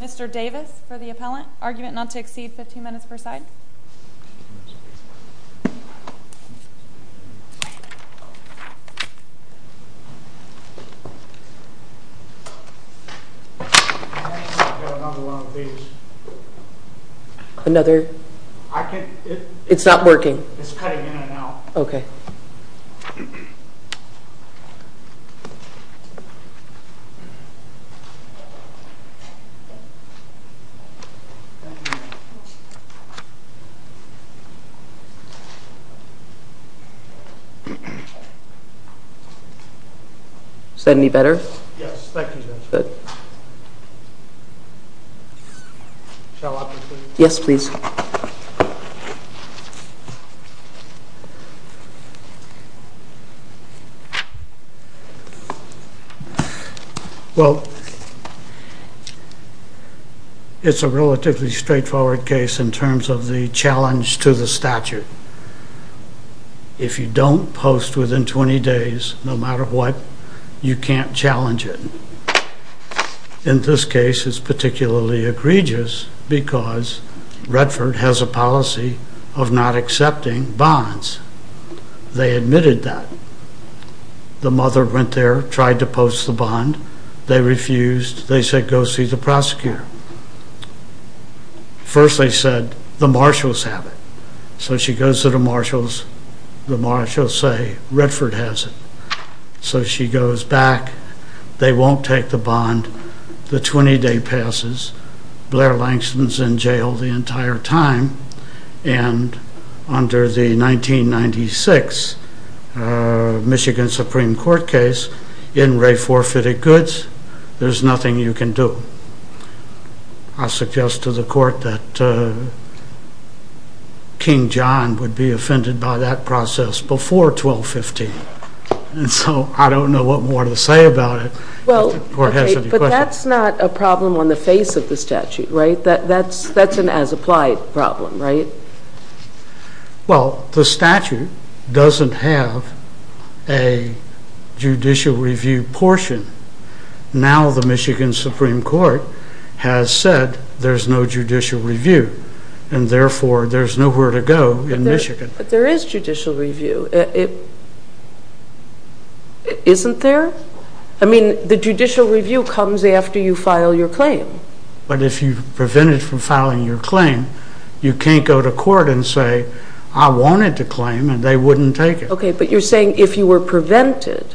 Mr. Davis for the appellant. Argument not to exceed fifteen minutes per side. I've got another one of these. It's not working. It's cutting in and out. Okay. Is that any better? Yes, thank you. Good. Shall I walk you through it? Yes, please. Well, it's a relatively straightforward case in terms of the challenge to the statute. If you don't post within twenty days, no matter what, you can't challenge it. In this case, it's particularly egregious because Redford has a policy of not accepting bonds. They admitted that. The mother went there, tried to post the bond. They refused. They said, go see the prosecutor. First they said, the marshals have it. So she goes to the marshals. The marshals say, Redford has it. So she goes back. They won't take the bond. The twenty day passes. Blair Langston's in jail the entire time. And under the 1996 Michigan Supreme Court case, in re forfeited goods, there's nothing you can do. I suggest to the court that King John would be offended by that process before 1215. And so I don't know what more to say about it. But that's not a problem on the face of the statute, right? That's an as applied problem, right? Well, the statute doesn't have a judicial review portion. Now the Michigan Supreme Court has said there's no judicial review. And therefore, there's nowhere to go in Michigan. But there is judicial review. Isn't there? I mean, the judicial review comes after you file your claim. But if you prevent it from filing your claim, you can't go to court and say, I wanted to claim, and they wouldn't take it. Okay, but you're saying if you were prevented,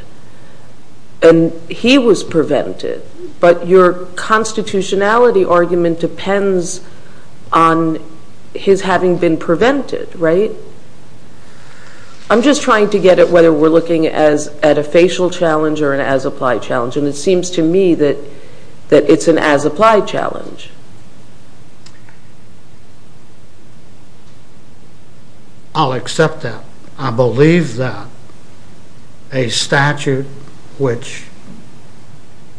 and he was prevented, but your constitutionality argument depends on his having been prevented, right? I'm just trying to get at whether we're looking at a facial challenge or an as applied challenge. And it seems to me that it's an as applied challenge. I'll accept that. I believe that a statute which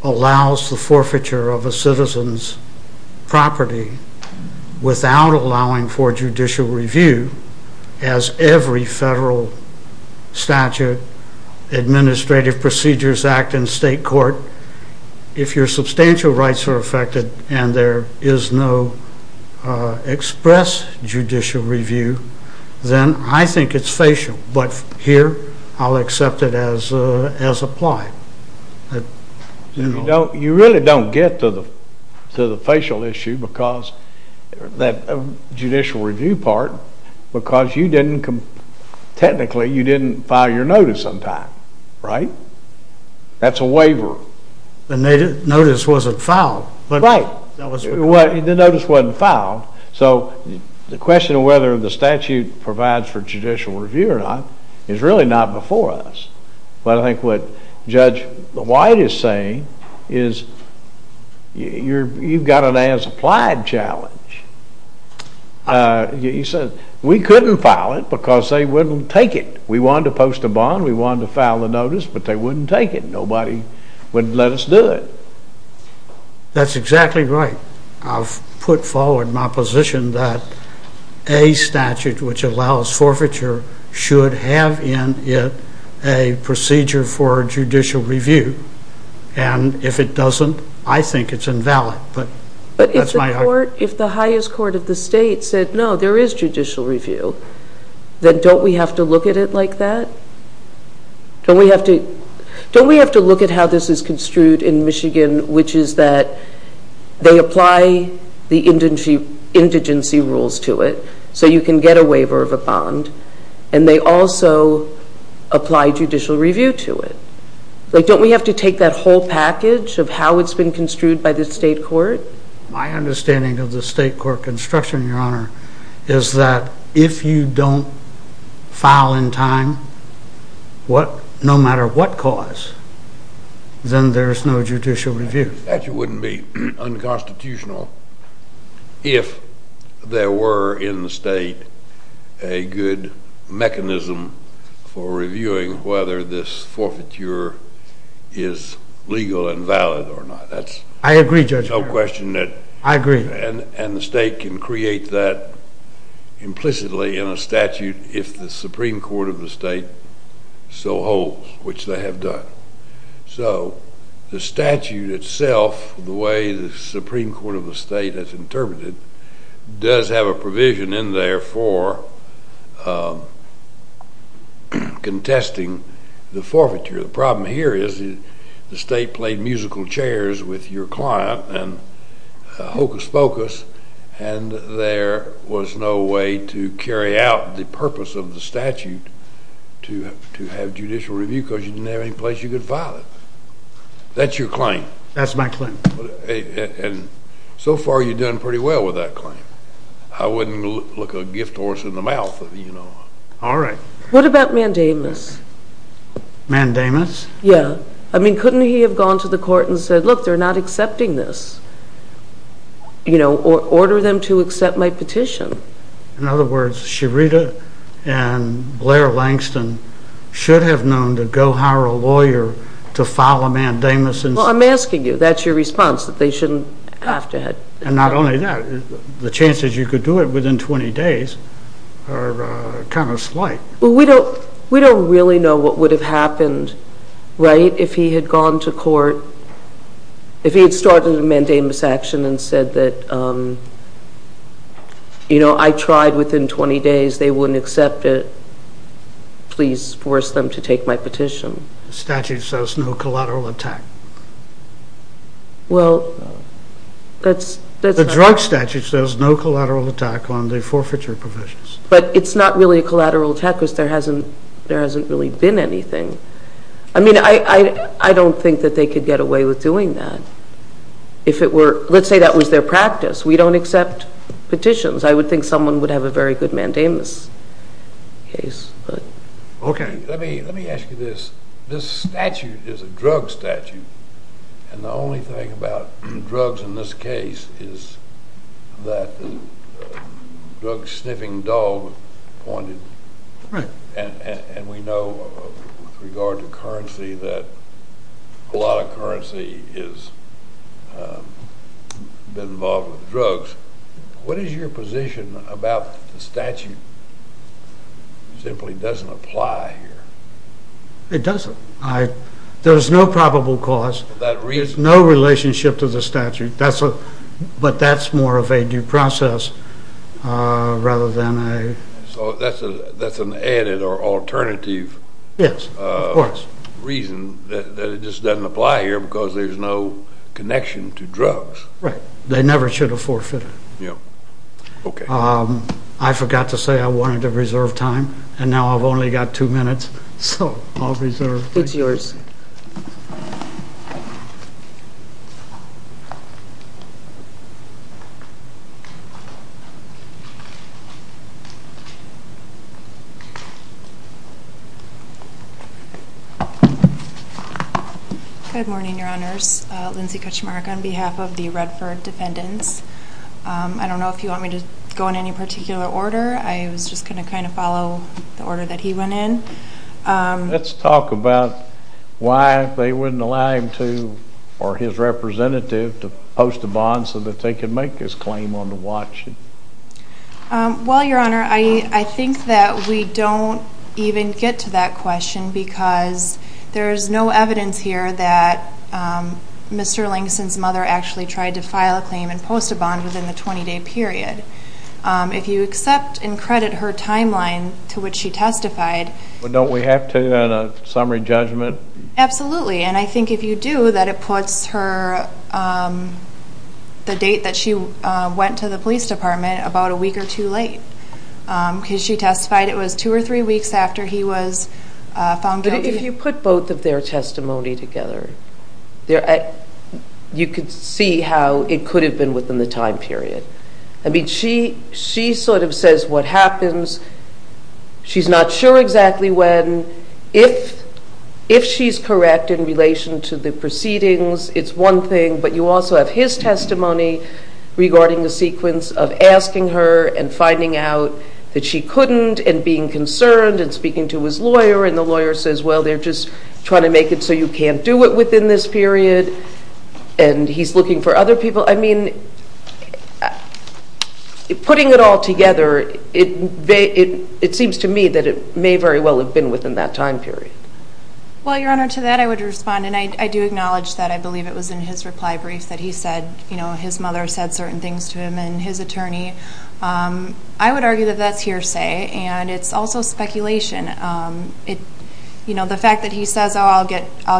allows the forfeiture of a citizen's property without allowing for judicial review, as every federal statute, administrative procedures act in state court, if your substantial rights are affected and there is no express judicial review, then I think it's facial. But here, I'll accept it as applied. You really don't get to the facial issue, that judicial review part, because technically you didn't file your notice sometime, right? That's a waiver. The notice wasn't filed. Right, the notice wasn't filed. So the question of whether the statute provides for judicial review or not is really not before us. But I think what Judge White is saying is you've got an as applied challenge. He said we couldn't file it because they wouldn't take it. We wanted to post a bond, we wanted to file a notice, but they wouldn't take it. Nobody would let us do it. That's exactly right. I've put forward my position that a statute which allows forfeiture should have in it a procedure for judicial review. And if it doesn't, I think it's invalid. But if the highest court of the state said no, there is judicial review, then don't we have to look at it like that? Don't we have to look at how this is construed in Michigan, which is that they apply the indigency rules to it, so you can get a waiver of a bond, and they also apply judicial review to it. Don't we have to take that whole package of how it's been construed by the state court? My understanding of the state court construction, Your Honor, is that if you don't file in time no matter what cause, then there's no judicial review. A statute wouldn't be unconstitutional if there were in the state a good mechanism for reviewing whether this forfeiture is legal and valid or not. I agree, Judge. There's no question that. I agree. And the state can create that implicitly in a statute if the Supreme Court of the state so holds, which they have done. So the statute itself, the way the Supreme Court of the state has interpreted it, does have a provision in there for contesting the forfeiture. The problem here is the state played musical chairs with your client and hocus pocus, and there was no way to carry out the purpose of the statute to have judicial review because you didn't have any place you could file it. That's your claim. That's my claim. And so far you've done pretty well with that claim. I wouldn't look a gift horse in the mouth, you know. All right. What about mandamus? Mandamus? Yeah. I mean, couldn't he have gone to the court and said, look, they're not accepting this, you know, or ordered them to accept my petition? In other words, Sherita and Blair Langston should have known to go hire a lawyer to file a mandamus. Well, I'm asking you. That's your response, that they shouldn't have to have. And not only that, the chances you could do it within 20 days are kind of slight. Well, we don't really know what would have happened, right, if he had gone to court, if he had started a mandamus action and said that, you know, I tried within 20 days, they wouldn't accept it, please force them to take my petition. The statute says no collateral attack. Well, that's... The drug statute says no collateral attack on the forfeiture provisions. But it's not really a collateral attack because there hasn't really been anything. I mean, I don't think that they could get away with doing that. If it were... Let's say that was their practice. We don't accept petitions. I would think someone would have a very good mandamus case. Okay. Let me ask you this. This statute is a drug statute. And the only thing about drugs in this case is that the drug-sniffing dog pointed... Right. And we know with regard to currency that a lot of currency has been involved with drugs. What is your position about the statute simply doesn't apply here? It doesn't. There's no probable cause. There's no relationship to the statute. But that's more of a due process rather than a... So that's an added or alternative... Yes, of course. ...reason that it just doesn't apply here because there's no connection to drugs. Right. They never should have forfeited. Yeah. Okay. I forgot to say I wanted to reserve time. And now I've only got two minutes. So I'll reserve. It's yours. Good morning, Your Honors. Lindsey Kutchmark on behalf of the Redford defendants. I don't know if you want me to go in any particular order. I was just going to kind of follow the order that he went in. Let's talk about why they wouldn't allow him to or his representative to post a bond so that they could make his claim on the watch. Well, Your Honor, I think that we don't even get to that question because there's no evidence here that Mr. Langston's mother actually tried to file a claim and post a bond within the 20-day period. If you accept and credit her timeline to which she testified... Well, don't we have to in a summary judgment? Absolutely. And I think if you do, that it puts the date that she went to the police department about a week or two late. Because she testified it was two or three weeks after he was found guilty. But if you put both of their testimony together, you could see how it could have been within the time period. I mean, she sort of says what happens. She's not sure exactly when. If she's correct in relation to the proceedings, it's one thing. But you also have his testimony regarding the sequence of asking her and finding out that she couldn't and being concerned and speaking to his lawyer. And the lawyer says, well, they're just trying to make it so you can't do it within this period. And he's looking for other people. I mean, putting it all together, it seems to me that it may very well have been within that time period. Well, Your Honor, to that I would respond. And I do acknowledge that I believe it was in his reply brief that he said his mother said certain things to him and his attorney. I would argue that that's hearsay. And it's also speculation. The fact that he says, oh, I'll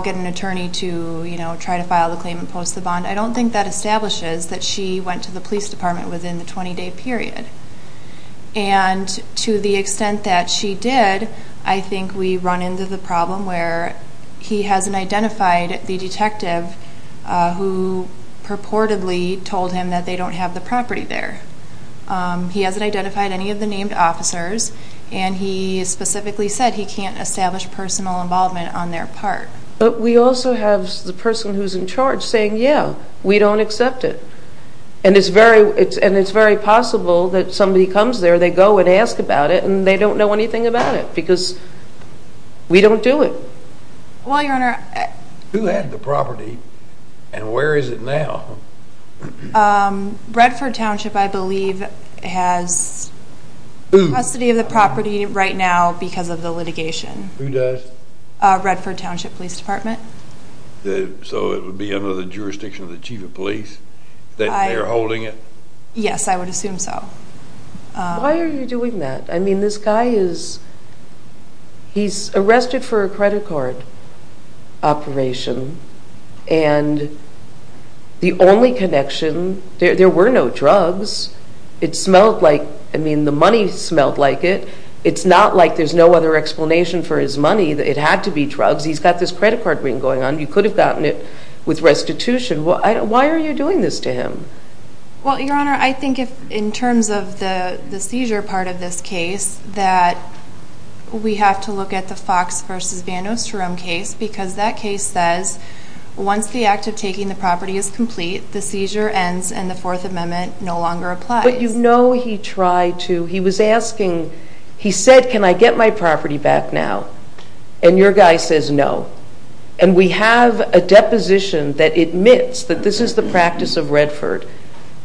get an attorney to try to file the claim and post the bond, I don't think that establishes that she went to the police department within the 20-day period. And to the extent that she did, I think we run into the problem where he hasn't identified the detective who purportedly told him that they don't have the property there. He hasn't identified any of the named officers. And he specifically said he can't establish personal involvement on their part. But we also have the person who's in charge saying, yeah, we don't accept it. And it's very possible that somebody comes there, they go and ask about it, and they don't know anything about it because we don't do it. Well, Your Honor. Who had the property and where is it now? Redford Township, I believe, has custody of the property right now because of the litigation. Who does? Redford Township Police Department. So it would be under the jurisdiction of the chief of police that they're holding it? Yes, I would assume so. Why are you doing that? I mean, this guy is arrested for a credit card operation. And the only connection, there were no drugs. It smelled like, I mean, the money smelled like it. It's not like there's no other explanation for his money. It had to be drugs. He's got this credit card ring going on. He could have gotten it with restitution. Why are you doing this to him? Well, Your Honor, I think in terms of the seizure part of this case, that we have to look at the Fox v. Van Osterum case because that case says, once the act of taking the property is complete, the seizure ends and the Fourth Amendment no longer applies. But you know he tried to. He was asking. He said, can I get my property back now? And your guy says no. And we have a deposition that admits that this is the practice of Redford.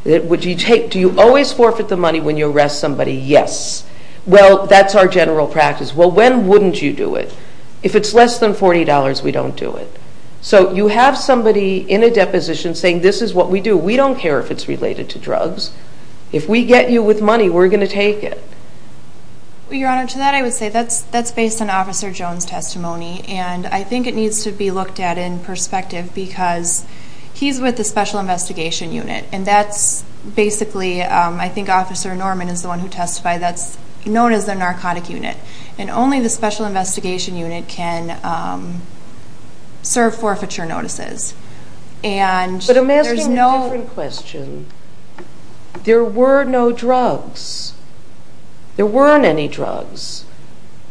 Do you always forfeit the money when you arrest somebody? Yes. Well, that's our general practice. Well, when wouldn't you do it? If it's less than $40, we don't do it. So you have somebody in a deposition saying this is what we do. We don't care if it's related to drugs. If we get you with money, we're going to take it. Well, Your Honor, to that I would say that's based on Officer Jones' testimony. And I think it needs to be looked at in perspective because he's with the Special Investigation Unit. And that's basically, I think Officer Norman is the one who testified, that's known as the Narcotic Unit. And only the Special Investigation Unit can serve forfeiture notices. But I'm asking a different question. There were no drugs. There weren't any drugs.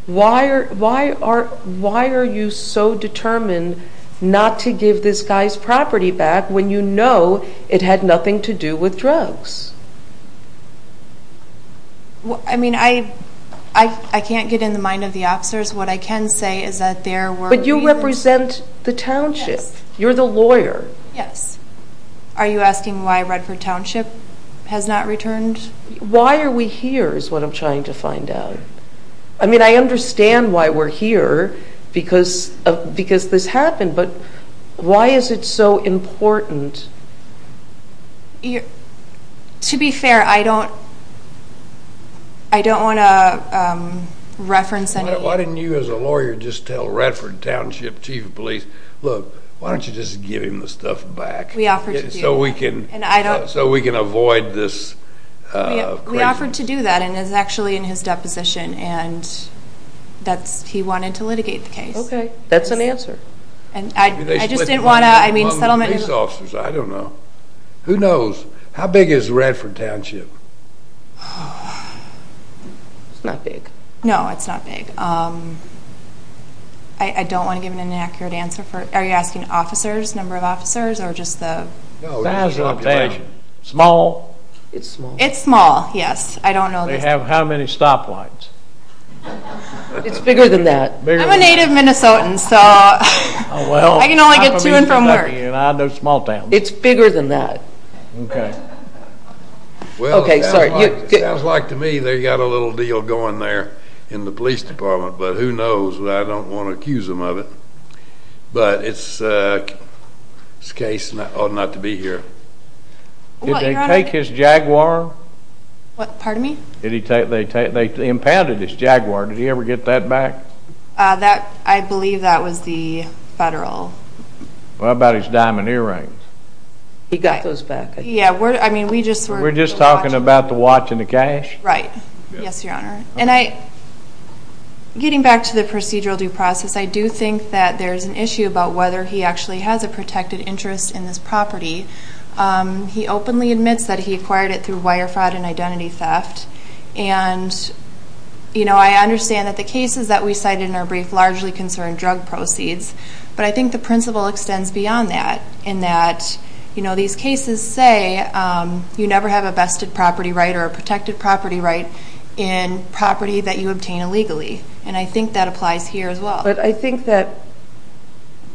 Why are you so determined not to give this guy's property back when you know it had nothing to do with drugs? I mean, I can't get in the mind of the officers. What I can say is that there were... But you represent the township. Yes. You're the lawyer. Yes. Are you asking why Redford Township has not returned? Why are we here is what I'm trying to find out. I mean, I understand why we're here because this happened. But why is it so important? To be fair, I don't want to reference any... Why didn't you as a lawyer just tell Redford Township Chief of Police, look, why don't you just give him the stuff back. We offered to do that. So we can avoid this... We offered to do that. And it's actually in his deposition. And he wanted to litigate the case. Okay. That's an answer. I just didn't want to... I don't know. Who knows? How big is Redford Township? It's not big. No, it's not big. I don't want to give an inaccurate answer. Are you asking officers, number of officers or just the... Small? It's small. It's small, yes. I don't know. They have how many stoplights? It's bigger than that. I'm a native Minnesotan. So I can only get to and from work. I know small towns. It's bigger than that. Okay. Okay, sorry. It sounds like to me they've got a little deal going there in the police department. But who knows? I don't want to accuse them of it. But it's a case not to be here. Did they take his Jaguar? Pardon me? They impounded his Jaguar. Did he ever get that back? I believe that was the federal... What about his diamond earrings? He got those back. Yeah, I mean we just were... We're just talking about the watch and the cash? Right. Yes, Your Honor. Getting back to the procedural due process, I do think that there's an issue about whether he actually has a protected interest in this property. He openly admits that he acquired it through wire fraud and identity theft. And I understand that the cases that we cited in our brief largely concern drug proceeds. But I think the principle extends beyond that. And that these cases say you never have a vested property right or a protected property right in property that you obtain illegally. And I think that applies here as well. But I think that...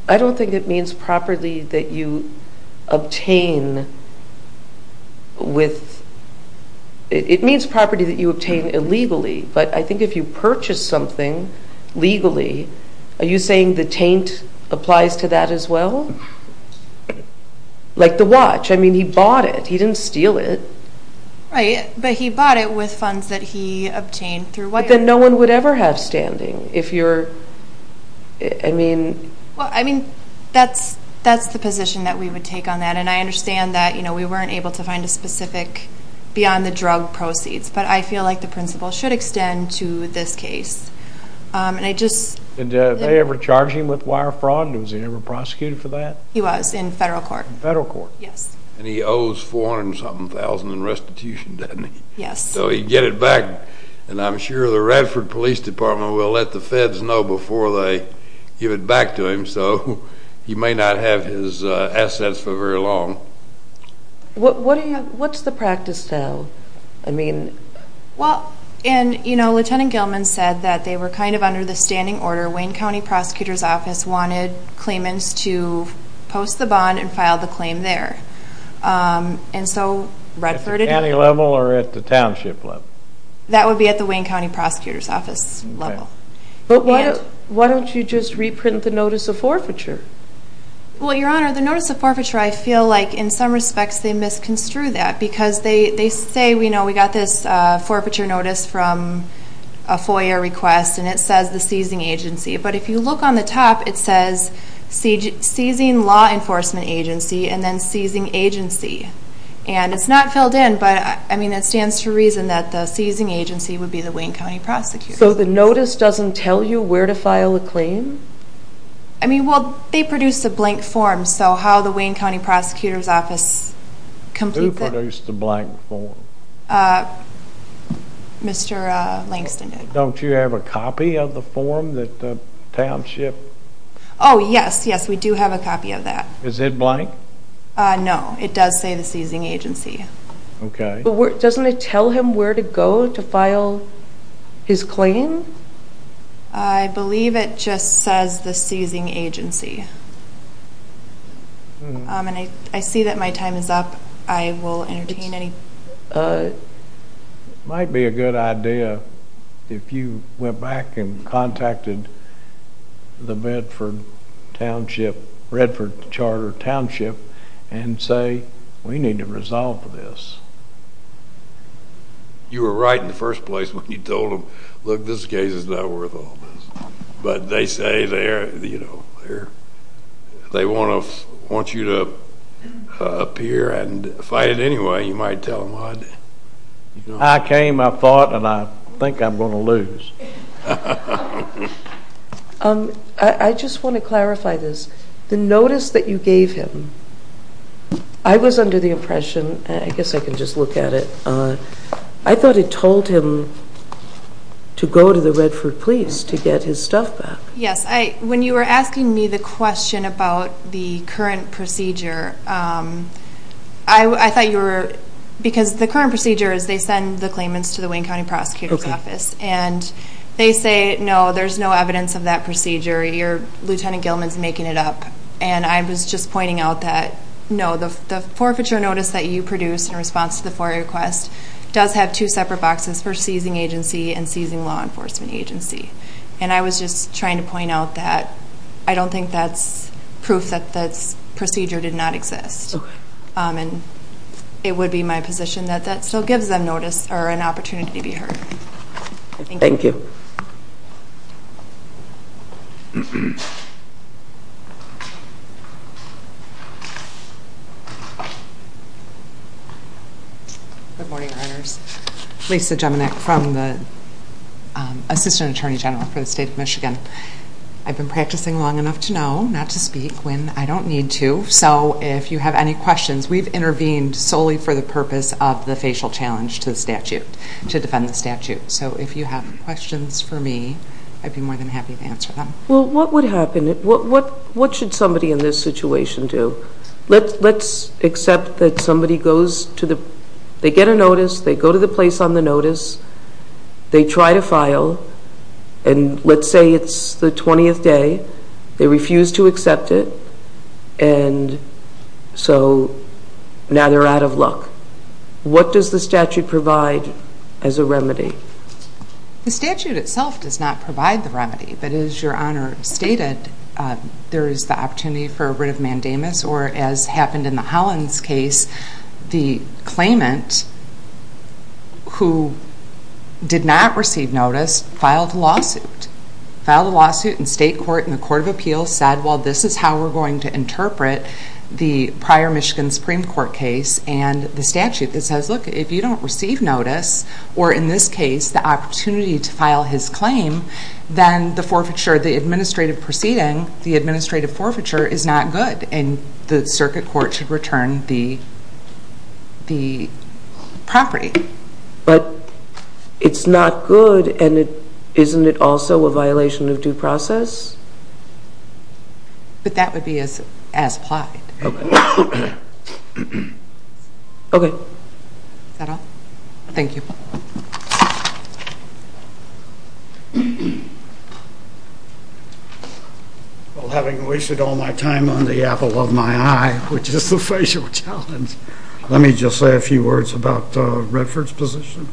I don't think it means property that you obtain with... It means property that you obtain illegally. But I think if you purchase something legally, are you saying the taint applies to that as well? Like the watch. I mean he bought it. He didn't steal it. Right. But he bought it with funds that he obtained through wire. But then no one would ever have standing if you're... I mean... Well, I mean that's the position that we would take on that. And I understand that we weren't able to find a specific beyond the drug proceeds. But I feel like the principle should extend to this case. And I just... And did they ever charge him with wire fraud? Was he ever prosecuted for that? He was in federal court. Federal court. Yes. And he owes 400 and something thousand in restitution, doesn't he? Yes. So he'd get it back. And I'm sure the Radford Police Department will let the feds know before they give it back to him. So he may not have his assets for very long. What's the practice now? I mean... Well, and, you know, Lieutenant Gilman said that they were kind of under the standing order. Wayne County Prosecutor's Office wanted claimants to post the bond and file the claim there. And so Radford... At the county level or at the township level? That would be at the Wayne County Prosecutor's Office level. But why don't you just reprint the notice of forfeiture? Well, Your Honor, the notice of forfeiture, I feel like in some respects they misconstrued that because they say, you know, we got this forfeiture notice from a FOIA request, and it says the seizing agency. But if you look on the top, it says seizing law enforcement agency and then seizing agency. And it's not filled in, but, I mean, it stands to reason that the seizing agency would be the Wayne County Prosecutor's Office. So the notice doesn't tell you where to file a claim? I mean, well, they produced a blank form. So how the Wayne County Prosecutor's Office completes it... Who produced the blank form? Mr. Langston did. Don't you have a copy of the form that the township... Oh, yes, yes, we do have a copy of that. Is it blank? No, it does say the seizing agency. Okay. But doesn't it tell him where to go to file his claim? I believe it just says the seizing agency. And I see that my time is up. I will entertain any... It might be a good idea if you went back and contacted the Bedford Township, Redford Charter Township, and say, we need to resolve this. You were right in the first place when you told them, look, this case is not worth all this. But they say they want you to appear and fight it anyway. You might tell them, I... I came, I fought, and I think I'm going to lose. I just want to clarify this. The notice that you gave him, I was under the impression, and I guess I can just look at it, I thought it told him to go to the Redford Police to get his stuff back. Yes. When you were asking me the question about the current procedure, I thought you were... Because the current procedure is they send the claimants to the Wayne County Prosecutor's Office. And they say, no, there's no evidence of that procedure. Lieutenant Gilman is making it up. And I was just pointing out that, no, the forfeiture notice that you produced in response to the FOIA request does have two separate boxes for seizing agency and seizing law enforcement agency. And I was just trying to point out that I don't think that's proof that that procedure did not exist. And it would be my position that that still gives them notice or an opportunity to be heard. Thank you. Thank you. Good morning, Your Honors. Lisa Jeminek from the Assistant Attorney General for the State of Michigan. I've been practicing long enough to know not to speak when I don't need to. So if you have any questions, we've intervened solely for the purpose of the facial challenge to the statute, to defend the statute. So if you have questions for me, I'd be more than happy to answer them. Well, what would happen? What should somebody in this situation do? Let's accept that somebody goes to the – they get a notice. They go to the place on the notice. They try to file. And let's say it's the 20th day. They refuse to accept it. And so now they're out of luck. What does the statute provide as a remedy? The statute itself does not provide the remedy. But as Your Honor stated, there is the opportunity for a writ of mandamus, or as happened in the Hollins case, the claimant who did not receive notice filed a lawsuit. Filed a lawsuit, and state court and the court of appeals said, well, this is how we're going to interpret the prior Michigan Supreme Court case and the statute that says, look, if you don't receive notice, or in this case the opportunity to file his claim, then the forfeiture, the administrative proceeding, the administrative forfeiture is not good, and the circuit court should return the property. But it's not good, and isn't it also a violation of due process? But that would be as applied. Okay. Is that all? Thank you. Well, having wasted all my time on the apple of my eye, which is the facial challenge, let me just say a few words about Redford's position.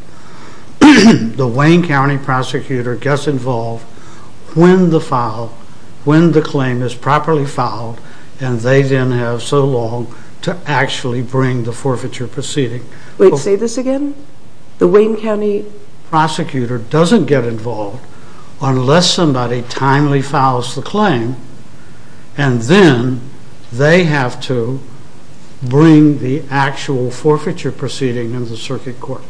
The Wayne County prosecutor gets involved when the claim is properly filed, and they then have so long to actually bring the forfeiture proceeding. Wait, say this again? The Wayne County prosecutor doesn't get involved unless somebody timely files the claim, and then they have to bring the actual forfeiture proceeding in the circuit court.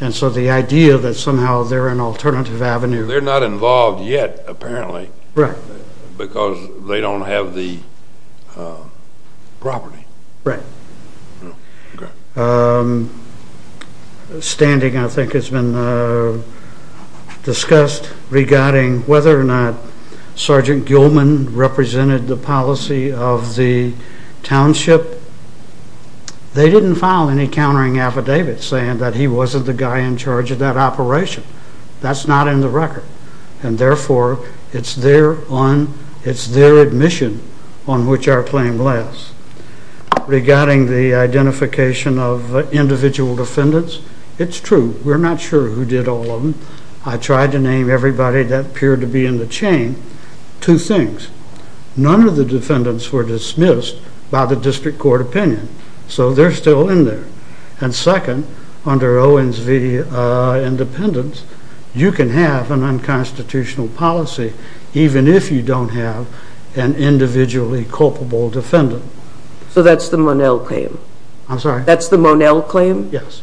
And so the idea that somehow they're an alternative avenue. They're not involved yet, apparently, because they don't have the property. Right. Okay. Well, there's been a lot of standing, I think it's been discussed, regarding whether or not Sergeant Gilman represented the policy of the township. They didn't file any countering affidavits saying that he wasn't the guy in charge of that operation. That's not in the record, and therefore it's their admission on which our claim lies. Regarding the identification of individual defendants, it's true. We're not sure who did all of them. I tried to name everybody that appeared to be in the chain. Two things, none of the defendants were dismissed by the district court opinion, so they're still in there. And second, under Owens v. Independents, you can have an unconstitutional policy even if you don't have an individually culpable defendant. So that's the Monell claim? I'm sorry? That's the Monell claim? Yes.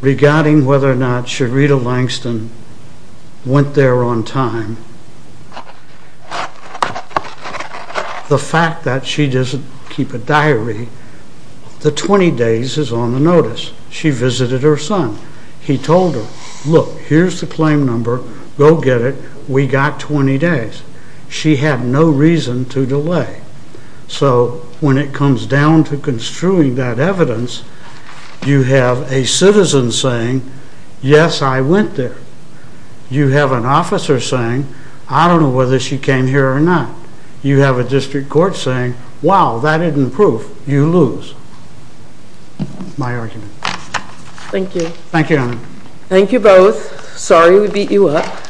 Regarding whether or not Sherita Langston went there on time, the fact that she doesn't keep a diary, the 20 days is on the notice. She visited her son. He told her, look, here's the claim number. Go get it. We got 20 days. She had no reason to delay. So when it comes down to construing that evidence, you have a citizen saying, yes, I went there. You have an officer saying, I don't know whether she came here or not. You have a district court saying, wow, that isn't proof. You lose. My argument. Thank you. Thank you, Your Honor. Thank you both. Sorry we beat you up.